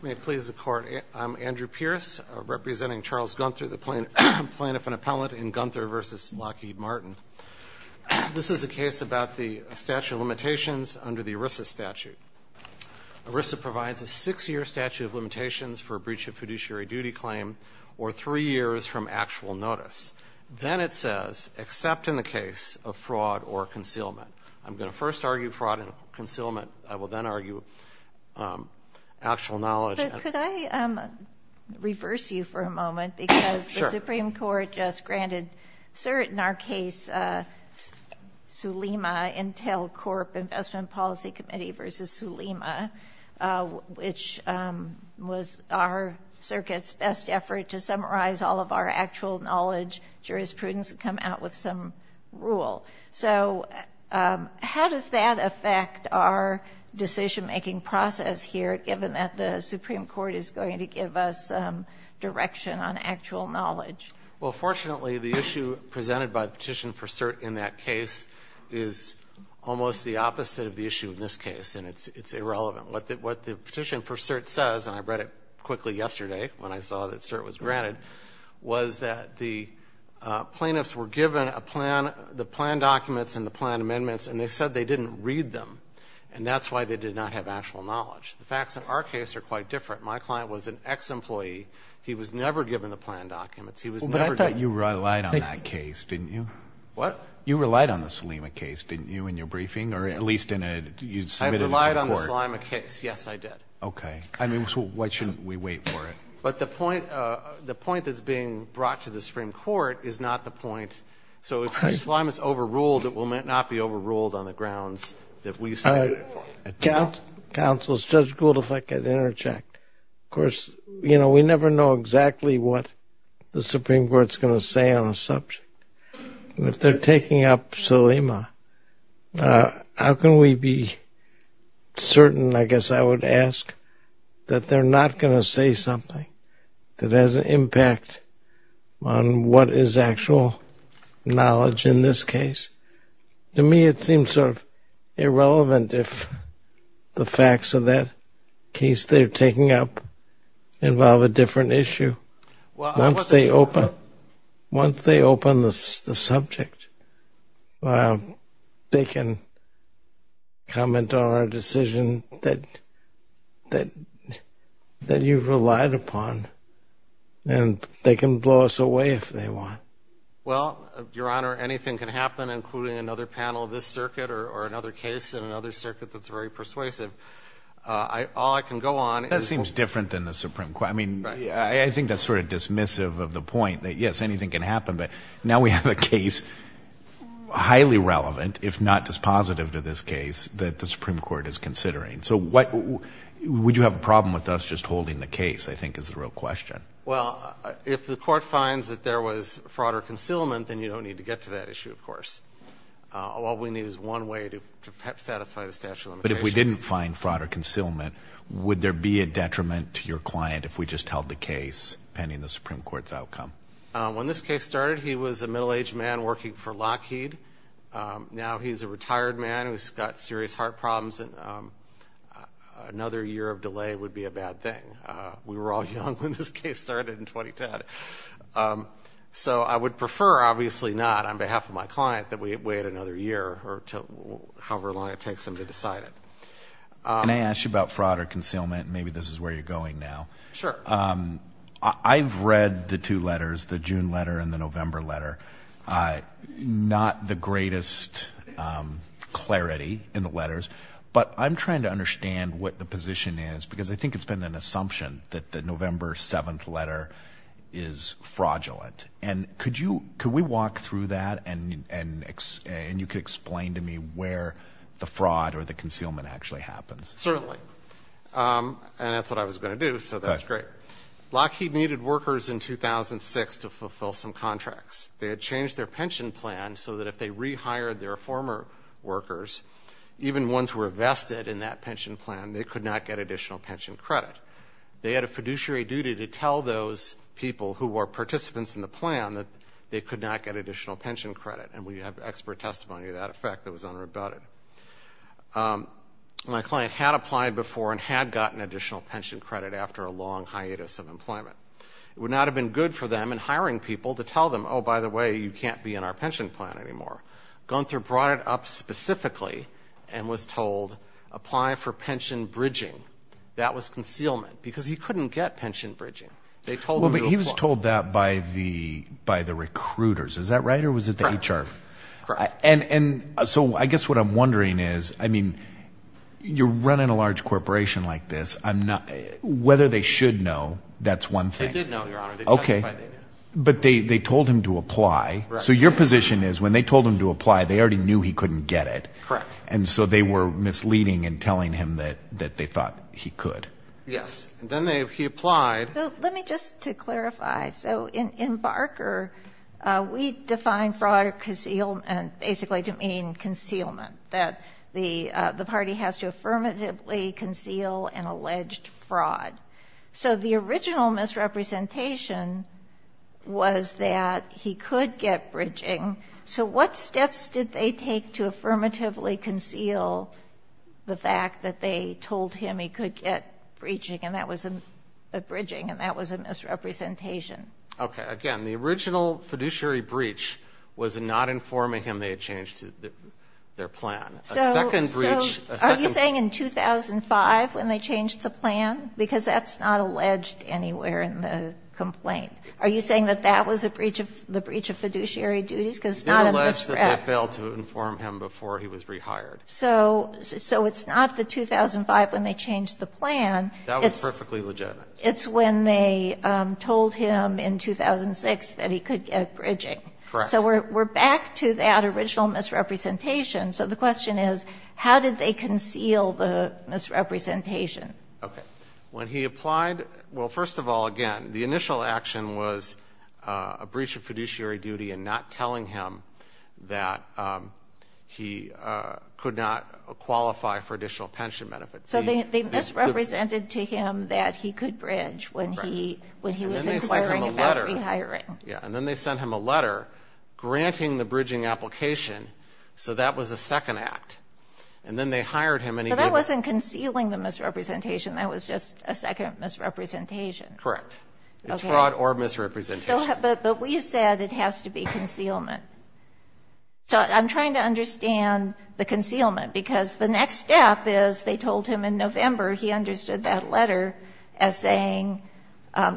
May it please the Court, I'm Andrew Pierce, representing Charles Guenther, the plaintiff and appellate in Guenther v. Lockheed Martin. This is a case about the statute of limitations under the ERISA statute. ERISA provides a six-year statute of limitations for a breach of fiduciary duty claim or three years from actual notice. Then it says, except in the case of fraud or concealment. I'm going to first argue fraud and concealment. I will then argue actual knowledge. Could I reverse you for a moment? Sure. Because the Supreme Court just granted cert in our case, the Sulema Intel Corp Investment Policy Committee v. Sulema, which was our circuit's best effort to summarize all of our actual knowledge. Jurisprudence would come out with some rule. So how does that affect our decision-making process here, given that the Supreme Court is going to give us direction on actual knowledge? Well, fortunately, the issue presented by the petition for cert in that case is almost the opposite of the issue in this case, and it's irrelevant. What the petition for cert says, and I read it quickly yesterday when I saw that cert was granted, was that the plaintiffs were given the plan documents and the plan amendments, and they said they didn't read them, and that's why they did not have actual knowledge. The facts in our case are quite different. My client was an ex-employee. He was never given the plan documents. I thought you relied on that case, didn't you? What? You relied on the Sulema case, didn't you, in your briefing, or at least in a submitted to court? I relied on the Sulema case. Yes, I did. Okay. So why shouldn't we wait for it? But the point that's being brought to the Supreme Court is not the point. So if Sulema is overruled, it will not be overruled on the grounds that we've said it. Counsel, is Judge Gould, if I could interject. Of course, you know, we never know exactly what the Supreme Court is going to say on a subject. If they're taking up Sulema, how can we be certain, I guess I would ask, that they're not going to say something that has an impact on what is actual knowledge in this case? To me, it seems sort of irrelevant if the facts of that case they're taking up involve a different issue. Once they open the subject, they can comment on our decision that you've relied upon, and they can blow us away if they want. Well, Your Honor, anything can happen, including another panel of this circuit or another case in another circuit that's very persuasive. All I can go on is – That seems different than the Supreme Court. I mean, I think that's sort of dismissive of the point that, yes, anything can happen, but now we have a case highly relevant, if not dispositive to this case, that the Supreme Court is considering. So would you have a problem with us just holding the case, I think, is the real question. Well, if the court finds that there was fraud or concealment, then you don't need to get to that issue, of course. All we need is one way to satisfy the statute of limitations. But if we didn't find fraud or concealment, would there be a detriment to your client if we just held the case pending the Supreme Court's outcome? When this case started, he was a middle-aged man working for Lockheed. Now he's a retired man who's got serious heart problems, and another year of delay would be a bad thing. We were all young when this case started in 2010. So I would prefer, obviously not, on behalf of my client, that we wait another year or however long it takes him to decide it. Can I ask you about fraud or concealment? Maybe this is where you're going now. Sure. I've read the two letters, the June letter and the November letter. Not the greatest clarity in the letters, but I'm trying to understand what the position is because I think it's been an assumption that the November 7th letter is fraudulent. And could we walk through that, and you could explain to me where the fraud or the concealment actually happens. Certainly. And that's what I was going to do, so that's great. Lockheed needed workers in 2006 to fulfill some contracts. They had changed their pension plan so that if they rehired their former workers, even ones who were vested in that pension plan, they could not get additional pension credit. They had a fiduciary duty to tell those people who were participants in the plan that they could not get additional pension credit, and we have expert testimony of that effect that was unrebutted. My client had applied before and had gotten additional pension credit after a long hiatus of employment. It would not have been good for them in hiring people to tell them, oh, by the way, you can't be in our pension plan anymore. Gunther brought it up specifically and was told, apply for pension bridging. That was concealment because he couldn't get pension bridging. They told him to apply. Well, but he was told that by the recruiters. Is that right, or was it the HR? Correct. And so I guess what I'm wondering is, I mean, you're running a large corporation like this. Whether they should know, that's one thing. They did know, Your Honor. They testified they knew. But they told him to apply. So your position is when they told him to apply, they already knew he couldn't get it. Correct. And so they were misleading and telling him that they thought he could. Yes. And then he applied. Let me just clarify. So in Barker, we define fraud or concealment basically to mean concealment, that the party has to affirmatively conceal an alleged fraud. So the original misrepresentation was that he could get bridging. So what steps did they take to affirmatively conceal the fact that they told him he could get bridging, and that was a misrepresentation? Okay. Again, the original fiduciary breach was not informing him they had changed their plan. A second breach, a second breach. So are you saying in 2005 when they changed the plan? Because that's not alleged anywhere in the complaint. Are you saying that that was a breach of the breach of fiduciary duties? Because it's not a misrep. He did allege that they failed to inform him before he was rehired. So it's not the 2005 when they changed the plan. That was perfectly legitimate. It's when they told him in 2006 that he could get bridging. Correct. So we're back to that original misrepresentation. So the question is, how did they conceal the misrepresentation? Okay. When he applied, well, first of all, again, the initial action was a breach of fiduciary duty and not telling him that he could not qualify for additional pension benefits. So they misrepresented to him that he could bridge when he was inquiring about rehiring. Yeah, and then they sent him a letter granting the bridging application. So that was a second act. And then they hired him. But that wasn't concealing the misrepresentation. That was just a second misrepresentation. Correct. It's fraud or misrepresentation. But we said it has to be concealment. So I'm trying to understand the concealment because the next step is they told him in November he understood that letter as saying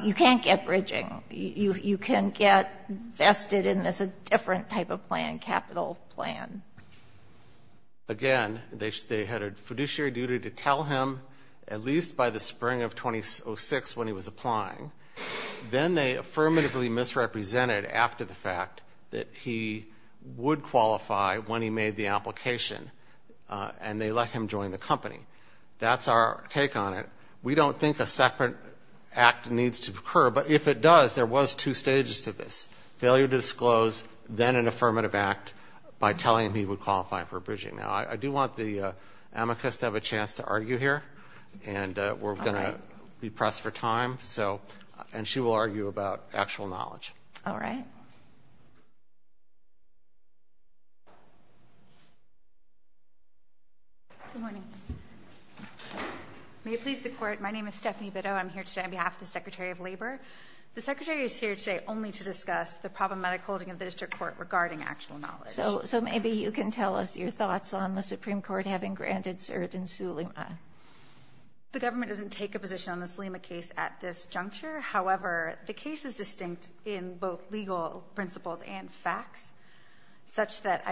you can't get bridging. You can get vested in this different type of plan, capital plan. Again, they had a fiduciary duty to tell him at least by the spring of 2006 when he was applying. Then they affirmatively misrepresented after the fact that he would qualify when he made the application. And they let him join the company. That's our take on it. We don't think a separate act needs to occur. But if it does, there was two stages to this, failure to disclose, then an affirmative act by telling him he would qualify for bridging. Now, I do want the amicus to have a chance to argue here. And we're going to be pressed for time. And she will argue about actual knowledge. All right. Good morning. May it please the Court, my name is Stephanie Bitto. I'm here today on behalf of the Secretary of Labor. The Secretary is here today only to discuss the problematic holding of the district court regarding actual knowledge. So maybe you can tell us your thoughts on the Supreme Court having granted cert in Suleyman. The government doesn't take a position on the Suleyman case at this juncture. However, the case is distinct in both legal principles and facts, such that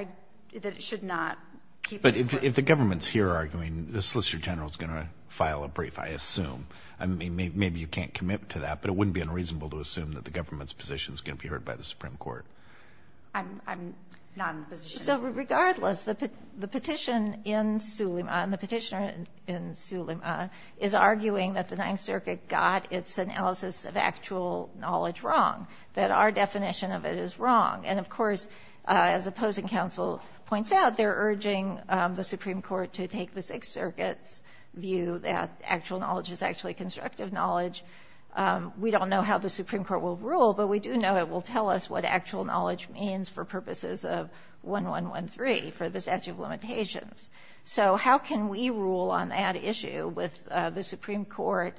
it should not keep it. But if the government is here arguing, the Solicitor General is going to file a brief, I assume. I mean, maybe you can't commit to that. But it wouldn't be unreasonable to assume that the government's position is going to be heard by the Supreme Court. I'm not in the position. So regardless, the petition in Suleyman, the petitioner in Suleyman, is arguing that the Ninth Circuit got its analysis of actual knowledge wrong, that our definition of it is wrong. And, of course, as opposing counsel points out, they're urging the Supreme Court to take the Sixth Circuit's view that actual knowledge is actually constructive knowledge. We don't know how the Supreme Court will rule, but we do know it will tell us what actual knowledge means for purposes of 1113, for the statute of limitations. So how can we rule on that issue with the Supreme Court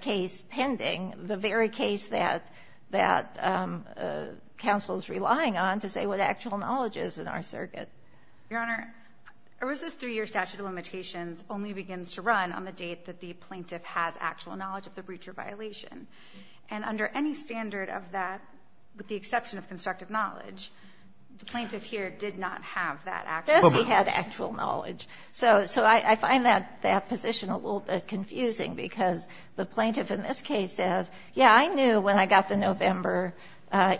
case pending, the very case that counsel is relying on to say what actual knowledge is in our circuit? Your Honor, ERISA's 3-year statute of limitations only begins to run on the date that the plaintiff has actual knowledge of the breacher violation. And under any standard of that, with the exception of constructive knowledge, the plaintiff here did not have that actual knowledge. Yes, he had actual knowledge. So I find that position a little bit confusing, because the plaintiff in this case says, yes, I knew when I got the November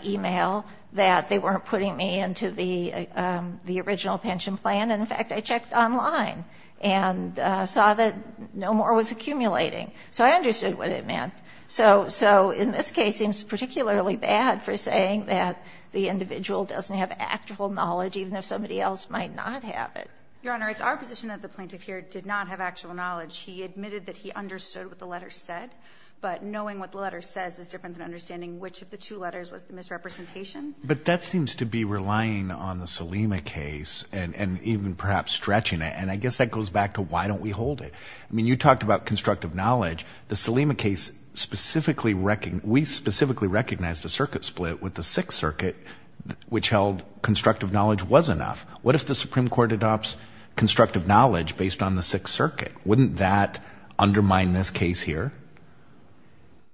e-mail that they weren't putting me into the original pension plan, and in fact, I checked online and saw that no more was accumulating. So I understood what it meant. So in this case, it seems particularly bad for saying that the individual doesn't have actual knowledge, even if somebody else might not have it. Your Honor, it's our position that the plaintiff here did not have actual knowledge. He admitted that he understood what the letter said. But knowing what the letter says is different than understanding which of the two letters was the misrepresentation. But that seems to be relying on the Salima case and even perhaps stretching it, and I guess that goes back to why don't we hold it. I mean, you talked about constructive knowledge. The Salima case specifically we specifically recognized a circuit split with the Sixth Circuit, which held constructive knowledge was enough. What if the Supreme Court adopts constructive knowledge based on the Sixth Circuit? Wouldn't that undermine this case here?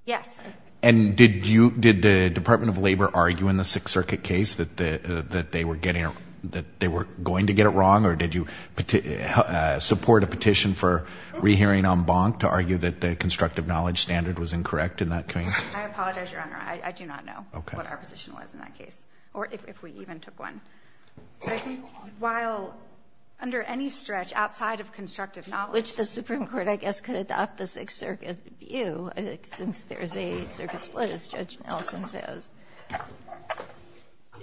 Yes. And did the Department of Labor argue in the Sixth Circuit case that they were going to get it wrong, or did you support a petition for rehearing en banc to argue that the constructive knowledge standard was incorrect in that case? I apologize, Your Honor. I do not know what our position was in that case, or if we even took one. I think while under any stretch outside of constructive knowledge. Which the Supreme Court, I guess, could adopt the Sixth Circuit view, I think, since there is a circuit split, as Judge Nelson says.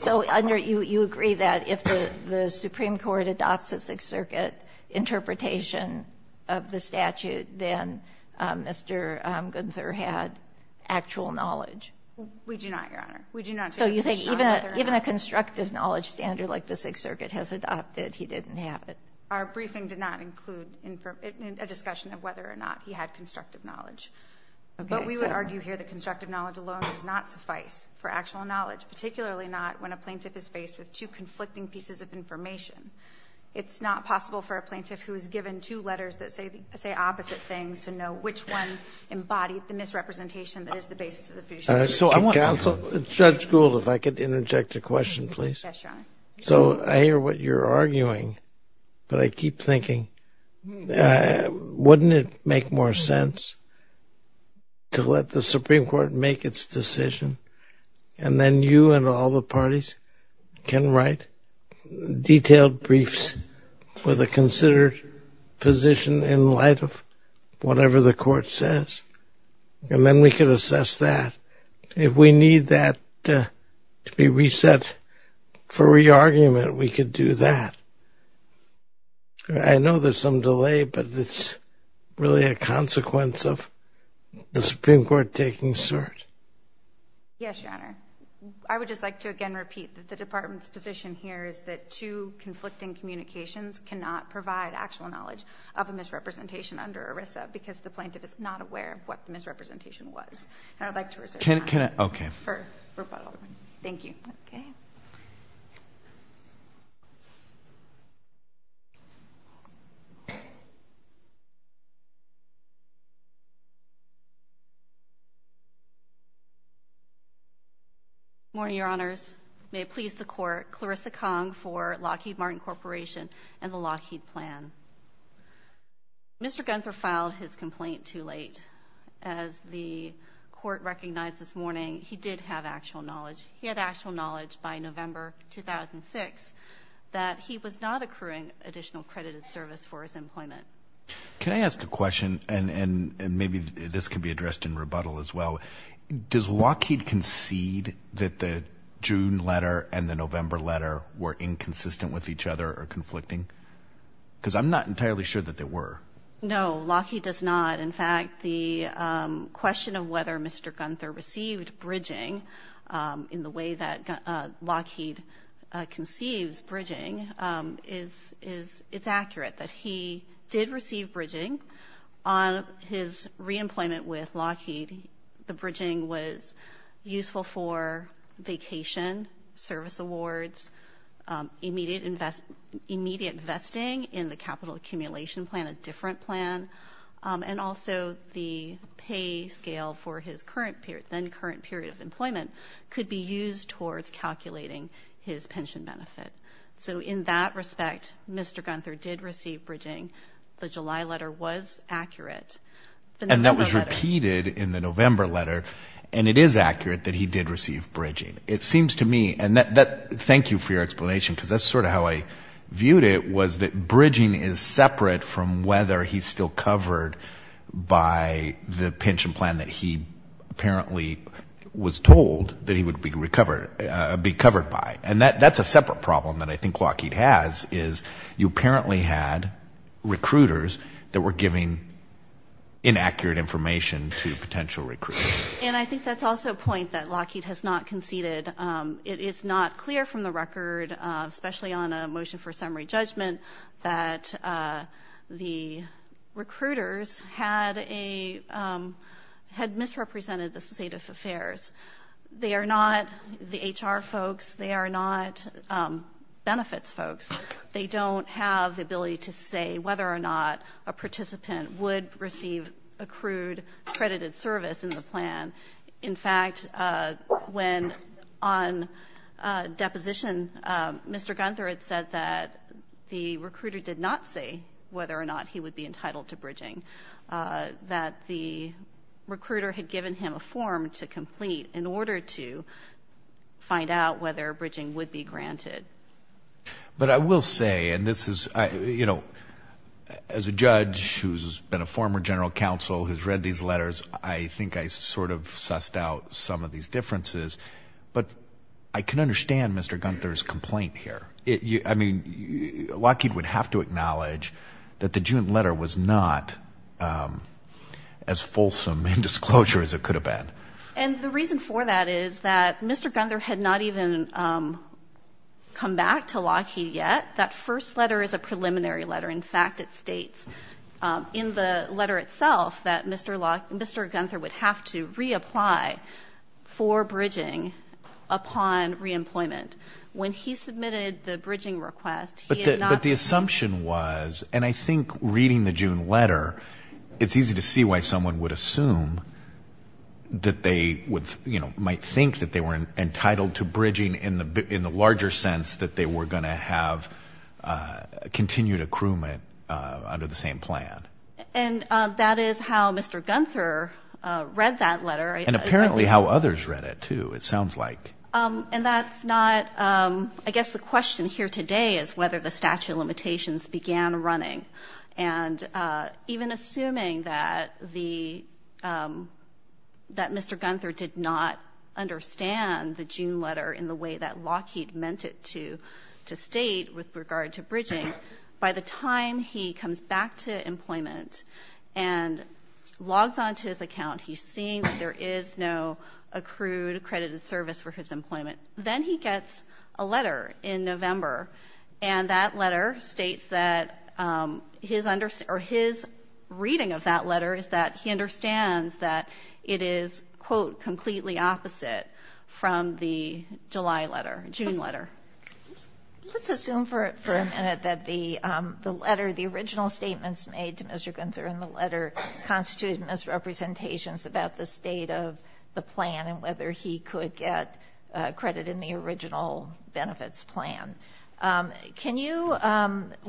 So under you agree that if the Supreme Court adopts a Sixth Circuit interpretation of the statute, then Mr. Gunther had actual knowledge? We do not take a position on that. So you think even a constructive knowledge standard like the Sixth Circuit has adopted, he didn't have it? Our briefing did not include a discussion of whether or not he had constructive knowledge. But we would argue here that constructive knowledge alone does not suffice for actual knowledge, particularly not when a plaintiff is faced with two conflicting pieces of information. It's not possible for a plaintiff who is given two letters that say opposite things to know which one embodied the misrepresentation that is the basis of the future case. Judge Gould, if I could interject a question, please. Yes, Your Honor. So I hear what you're arguing, but I keep thinking, wouldn't it make more sense to let the Supreme Court make its decision and then you and all the parties can write detailed briefs with a considered position in light of whatever the court says? And then we can assess that. If we need that to be reset for re-argument, we could do that. I know there's some delay, but it's really a consequence of the Supreme Court taking cert. Yes, Your Honor. I would just like to, again, repeat that the Department's position here is that two conflicting communications cannot provide actual knowledge of a misrepresentation under ERISA because the plaintiff is not aware of what the misrepresentation was. And I'd like to reserve time for rebuttal. Thank you. Okay. Morning, Your Honors. May it please the Court, Clarissa Kong for Lockheed Martin Corporation and the Lockheed plan. Mr. Gunther filed his complaint too late. As the Court recognized this morning, he did have actual knowledge. He had actual knowledge by November 2006 that he was not accruing additional credited service for his employment. Can I ask a question? And maybe this could be addressed in rebuttal as well. Does Lockheed concede that the June letter and the November letter were inconsistent with each other or conflicting? Because I'm not entirely sure that they were. No, Lockheed does not. In fact, the question of whether Mr. Gunther received bridging in the way that Lockheed conceives bridging, it's accurate that he did receive bridging. On his reemployment with Lockheed, the bridging was useful for vacation, service awards, immediate investing in the capital accumulation plan, a different plan, and also the pay scale for his then current period of employment could be used towards calculating his pension benefit. So in that respect, Mr. Gunther did receive bridging. The July letter was accurate. And that was repeated in the November letter, and it is accurate that he did receive bridging. It seems to me, and thank you for your explanation, because that's sort of how I viewed it, was that bridging is separate from whether he's still covered by the pension plan that he apparently was told that he would be covered by. And that's a separate problem that I think Lockheed has, is you apparently had recruiters that were giving inaccurate information to potential recruits. And I think that's also a point that Lockheed has not conceded. It is not clear from the record, especially on a motion for summary judgment, that the recruiters had misrepresented the state of affairs. They are not the HR folks. They are not benefits folks. They don't have the ability to say whether or not a participant would receive accrued credited service in the plan. In fact, when on deposition, Mr. Gunther had said that the recruiter did not say whether or not he would be entitled to bridging, that the recruiter had given him a form to complete in order to find out whether bridging would be granted. But I will say, and this is, you know, as a judge who's been a former general counsel who's read these letters, I think I sort of sussed out some of these differences. But I can understand Mr. Gunther's complaint here. I mean, Lockheed would have to acknowledge that the June letter was not as fulsome in disclosure as it could have been. And the reason for that is that Mr. Gunther had not even come back to Lockheed yet. That first letter is a preliminary letter. In fact, it states in the letter itself that Mr. Gunther would have to reapply for bridging upon reemployment. When he submitted the bridging request, he had not. But the assumption was, and I think reading the June letter, it's easy to see why someone would assume that they, you know, might think that they were entitled to bridging in the larger sense that they were going to have continued accruement under the same plan. And that is how Mr. Gunther read that letter. And apparently how others read it, too, it sounds like. And that's not, I guess the question here today is whether the statute of limitations began running. And even assuming that Mr. Gunther did not understand the June letter in the way that Lockheed meant it to state with regard to bridging, by the time he comes back to employment and logs on to his account, he's seeing that there is no accrued accredited service for his employment. Then he gets a letter in November. And that letter states that his reading of that letter is that he understands that it is, quote, completely opposite from the July letter, June letter. Let's assume for a minute that the letter, the original statements made to Mr. Gunther in the letter constituted misrepresentations about the state of the plan and whether he could get credit in the original benefits plan. Can you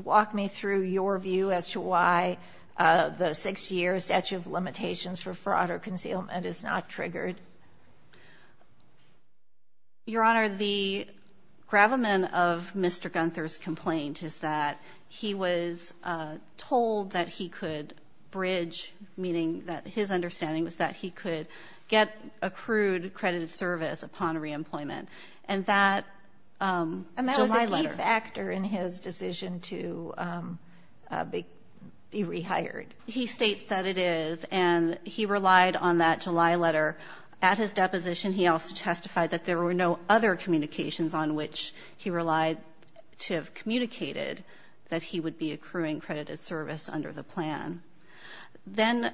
walk me through your view as to why the six-year statute of limitations for fraud or concealment is not triggered? Your Honor, the gravamen of Mr. Gunther's complaint is that he was told that he could bridge, meaning that his understanding was that he could get accrued accredited service upon reemployment. And that was a key factor in his decision to be rehired. He states that it is, and he relied on that July letter. At his deposition he also testified that there were no other communications on which he relied to have communicated that he would be accruing accredited service under the plan. Then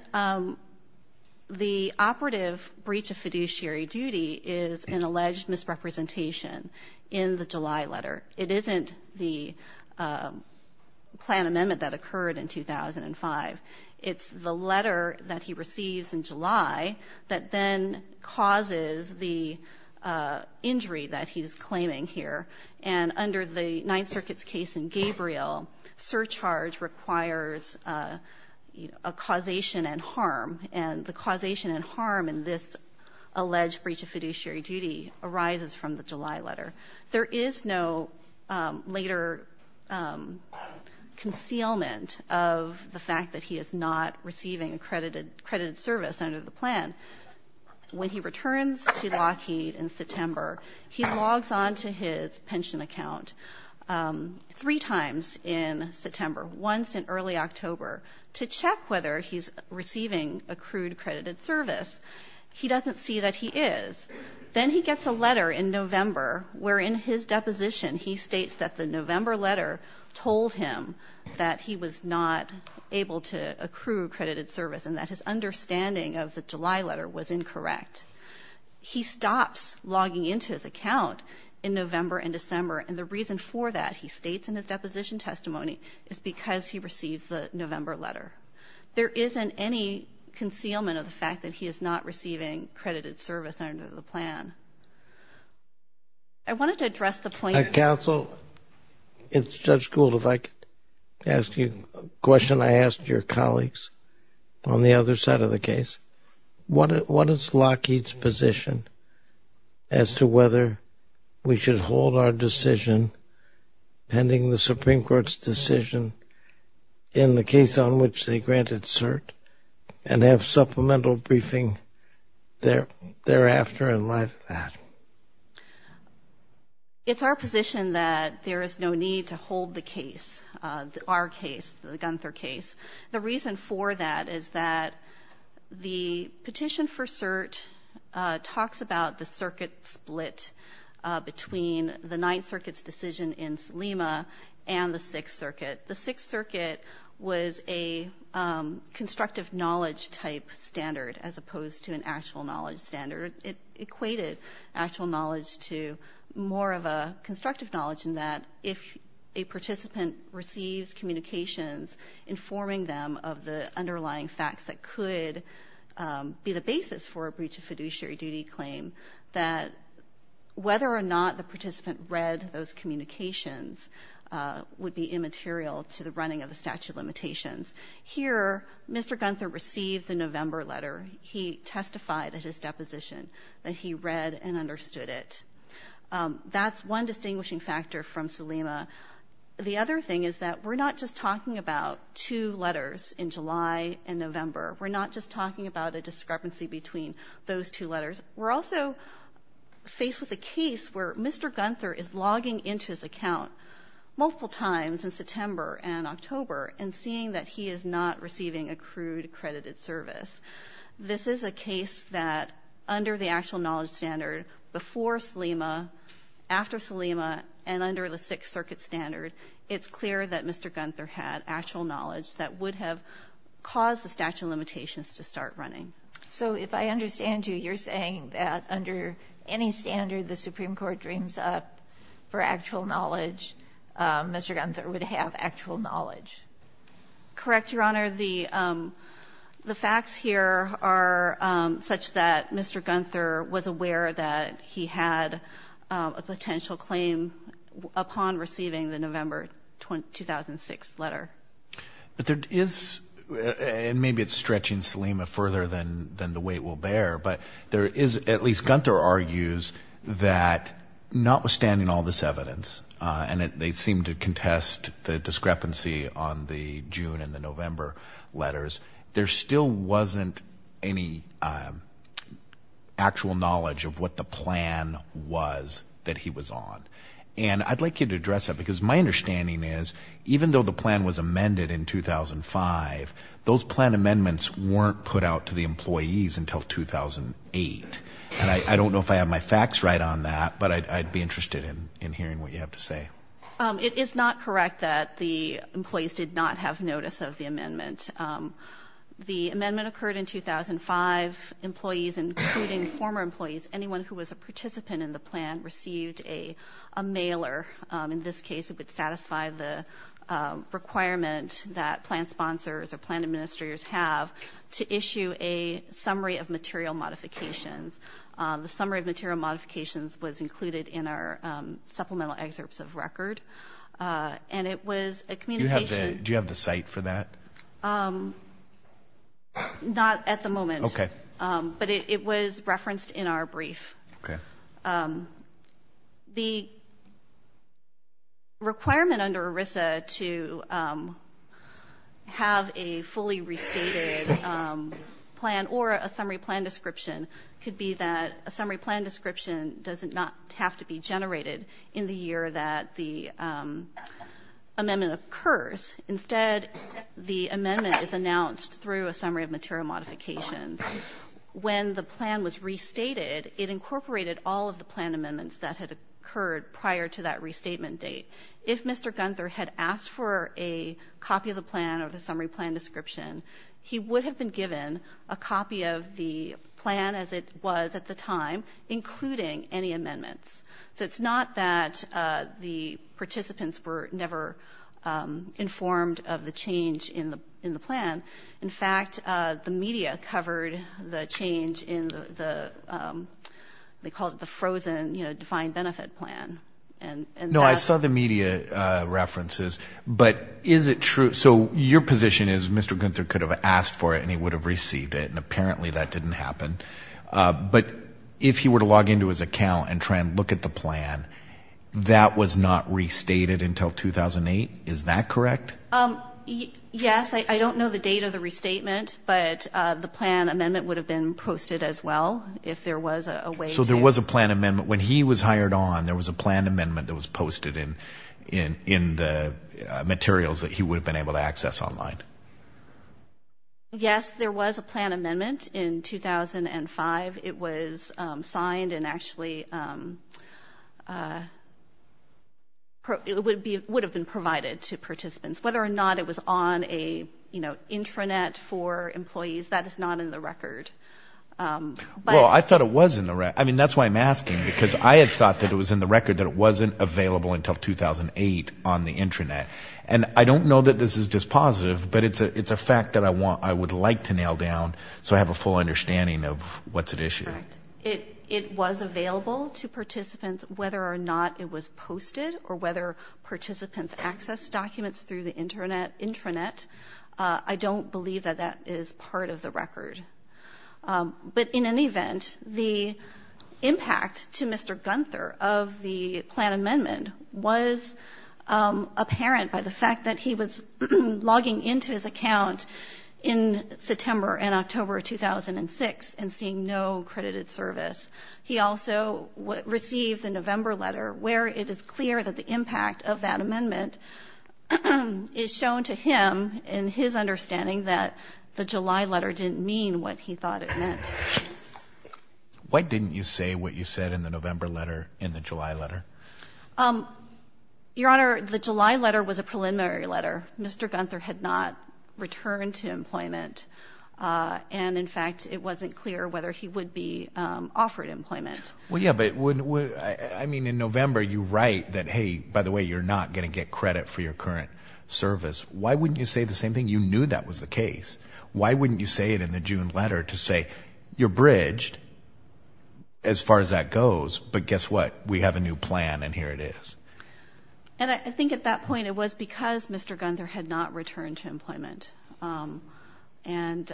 the operative breach of fiduciary duty is an alleged misrepresentation in the July letter. It isn't the plan amendment that occurred in 2005. It's the letter that he receives in July that then causes the injury that he's claiming here. And under the Ninth Circuit's case in Gabriel, surcharge requires a causation and harm. And the causation and harm in this alleged breach of fiduciary duty arises from the July letter. There is no later concealment of the fact that he is not receiving accredited service under the plan. When he returns to Lockheed in September, he logs on to his pension account three times in September, once in early October, to check whether he's receiving accrued accredited service. He doesn't see that he is. Then he gets a letter in November where in his deposition he states that the November letter told him that he was not able to accrue accredited service and that his understanding of the July letter was incorrect. He stops logging into his account in November and December, and the reason for that, he states in his deposition testimony, is because he received the November letter. There isn't any concealment of the fact that he is not receiving accredited service under the plan. I wanted to address the point. Counsel, it's Judge Gould. If I could ask you a question I asked your colleagues on the other side of the case. What is Lockheed's position as to whether we should hold our decision pending the Supreme Court's decision in the case on which they granted cert and have supplemental briefing thereafter and like that? It's our position that there is no need to hold the case, our case, the Gunther case. The reason for that is that the petition for cert talks about the circuit split between the Ninth Circuit's decision in Selima and the Sixth Circuit. The Sixth Circuit was a constructive knowledge type standard as opposed to an actual knowledge standard. It equated actual knowledge to more of a constructive knowledge in that if a participant receives communications informing them of the underlying facts that could be the basis for a breach of fiduciary duty claim, that whether or not the statute limitations. Here, Mr. Gunther received the November letter. He testified at his deposition that he read and understood it. That's one distinguishing factor from Selima. The other thing is that we're not just talking about two letters in July and November. We're not just talking about a discrepancy between those two letters. We're also faced with a case where Mr. Gunther is logging into his account multiple times in September and October and seeing that he is not receiving accrued credited service. This is a case that under the actual knowledge standard before Selima, after Selima, and under the Sixth Circuit standard, it's clear that Mr. Gunther had actual knowledge that would have caused the statute of limitations to start running. So if I understand you, you're saying that under any standard the Supreme Court dreams up for actual knowledge, Mr. Gunther would have actual knowledge? Correct, Your Honor. The facts here are such that Mr. Gunther was aware that he had a potential claim upon receiving the November 2006 letter. But there is, and maybe it's stretching Selima further than the weight will notwithstanding all this evidence, and they seem to contest the discrepancy on the June and the November letters, there still wasn't any actual knowledge of what the plan was that he was on. And I'd like you to address that because my understanding is even though the plan was amended in 2005, those plan amendments weren't put out to the employees until 2008. And I don't know if I have my facts right on that, but I'd be interested in hearing what you have to say. It is not correct that the employees did not have notice of the amendment. The amendment occurred in 2005. Employees, including former employees, anyone who was a participant in the plan received a mailer. In this case, it would satisfy the requirement that plan sponsors or plan administrators have to issue a summary of material modifications. The summary of material modifications was included in our supplemental excerpts of record. And it was a communication. Do you have the site for that? Not at the moment. Okay. But it was referenced in our brief. Okay. The requirement under ERISA to have a fully restated plan or a summary plan description could be that a summary plan description does not have to be generated in the year that the amendment occurs. Instead, the amendment is announced through a summary of material modifications. When the plan was restated, it incorporated all of the plan amendments that had occurred prior to that restatement date. If Mr. Gunther had asked for a copy of the plan or the summary plan description, he would have been given a copy of the plan as it was at the time, including any amendments. So it's not that the participants were never informed of the change in the plan. In fact, the media covered the change in the frozen defined benefit plan. No, I saw the media references. But is it true? So your position is Mr. Gunther could have asked for it, and he would have received it. And apparently that didn't happen. But if he were to log into his account and try and look at the plan, that was not restated until 2008. Is that correct? Yes. I don't know the date of the restatement, but the plan amendment would have been posted as well if there was a way to. So there was a plan amendment. When he was hired on, there was a plan amendment that was posted in the materials that he would have been able to access online. Yes, there was a plan amendment in 2005. It was signed and actually would have been provided to participants. Whether or not it was on an intranet for employees, that is not in the record. Well, I thought it was in the record. I mean, that's why I'm asking, because I had thought that it was in the record that it wasn't available until 2008 on the intranet. And I don't know that this is dispositive, but it's a fact that I would like to nail down so I have a full understanding of what's at issue. Correct. It was available to participants whether or not it was posted or whether it was on the intranet. I don't believe that that is part of the record. But in any event, the impact to Mr. Gunther of the plan amendment was apparent by the fact that he was logging into his account in September and October of 2006 and seeing no accredited service. He also received a November letter where it is clear that the impact of that amendment is shown to him in his understanding that the July letter didn't mean what he thought it meant. Why didn't you say what you said in the November letter in the July letter? Your Honor, the July letter was a preliminary letter. Mr. Gunther had not returned to employment. And, in fact, it wasn't clear whether he would be offered employment. Well, yeah, but I mean in November you write that, hey, by the way, you're not going to get credit for your current service. Why wouldn't you say the same thing? You knew that was the case. Why wouldn't you say it in the June letter to say you're bridged as far as that goes, but guess what, we have a new plan and here it is. And I think at that point it was because Mr. Gunther had not returned to employment. And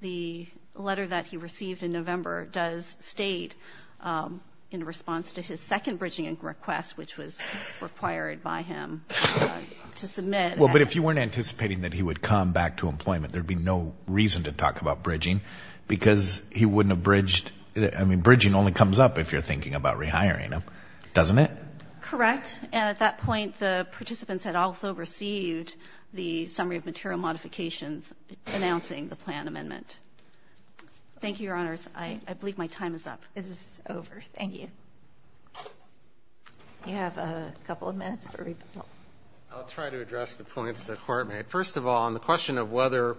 the letter that he received in November does state in response to his second bridging request, which was required by him to submit. Well, but if you weren't anticipating that he would come back to employment, there would be no reason to talk about bridging because he wouldn't have bridged. I mean, bridging only comes up if you're thinking about rehiring him, doesn't it? Correct. And at that point the participants had also received the summary of material modifications announcing the plan amendment. Thank you, Your Honors. I believe my time is up. It is over. Thank you. You have a couple of minutes for rebuttal. I'll try to address the points the Court made. First of all, on the question of what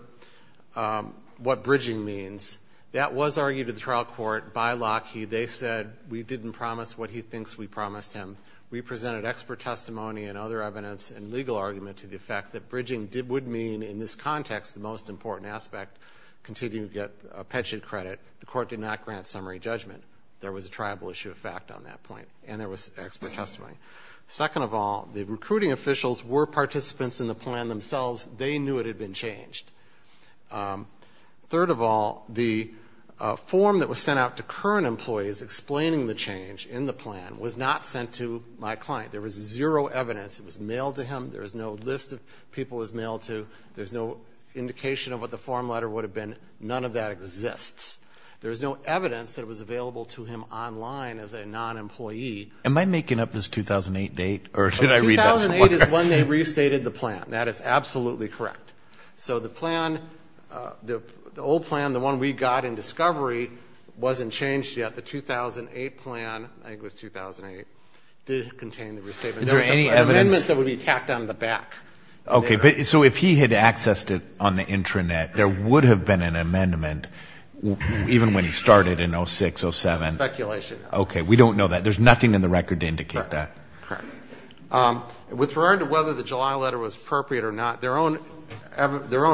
bridging means, that was argued in the trial court by Lockheed. They said we didn't promise what he thinks we promised him. We presented expert testimony and other evidence and legal argument to the fact that bridging would mean, in this context, the most important aspect continuing to get a pension credit. The Court did not grant summary judgment. There was a tribal issue of fact on that point, and there was expert testimony. Second of all, the recruiting officials were participants in the plan themselves. They knew it had been changed. Third of all, the form that was sent out to current employees explaining the plan to my client, there was zero evidence. It was mailed to him. There was no list of people it was mailed to. There was no indication of what the form letter would have been. None of that exists. There was no evidence that it was available to him online as a non-employee. Am I making up this 2008 date? Or did I read that somewhere? 2008 is when they restated the plan. That is absolutely correct. So the plan, the old plan, the one we got in discovery, wasn't changed yet. The 2008 plan, I think it was 2008, did contain the restatement. Is there any evidence? There was an amendment that would be tacked on the back. Okay. So if he had accessed it on the intranet, there would have been an amendment even when he started in 06, 07. It's speculation. Okay. We don't know that. There's nothing in the record to indicate that. Correct. With regard to whether the July letter was appropriate or not, their own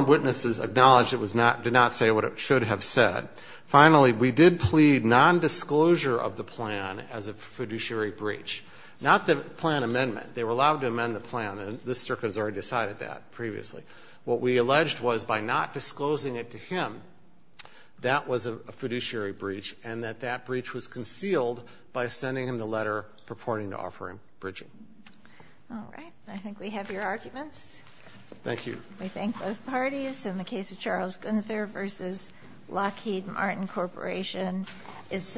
witnesses acknowledged it did not say what it should have said. Finally, we did plead nondisclosure of the plan as a fiduciary breach. Not the plan amendment. They were allowed to amend the plan, and this Circuit has already decided that previously. What we alleged was by not disclosing it to him, that was a fiduciary breach, and that that breach was concealed by sending him the letter purporting to offer him bridging. All right. I think we have your arguments. Thank you. We thank both parties. In the case of Charles Gunther v. Lockheed Martin Corporation,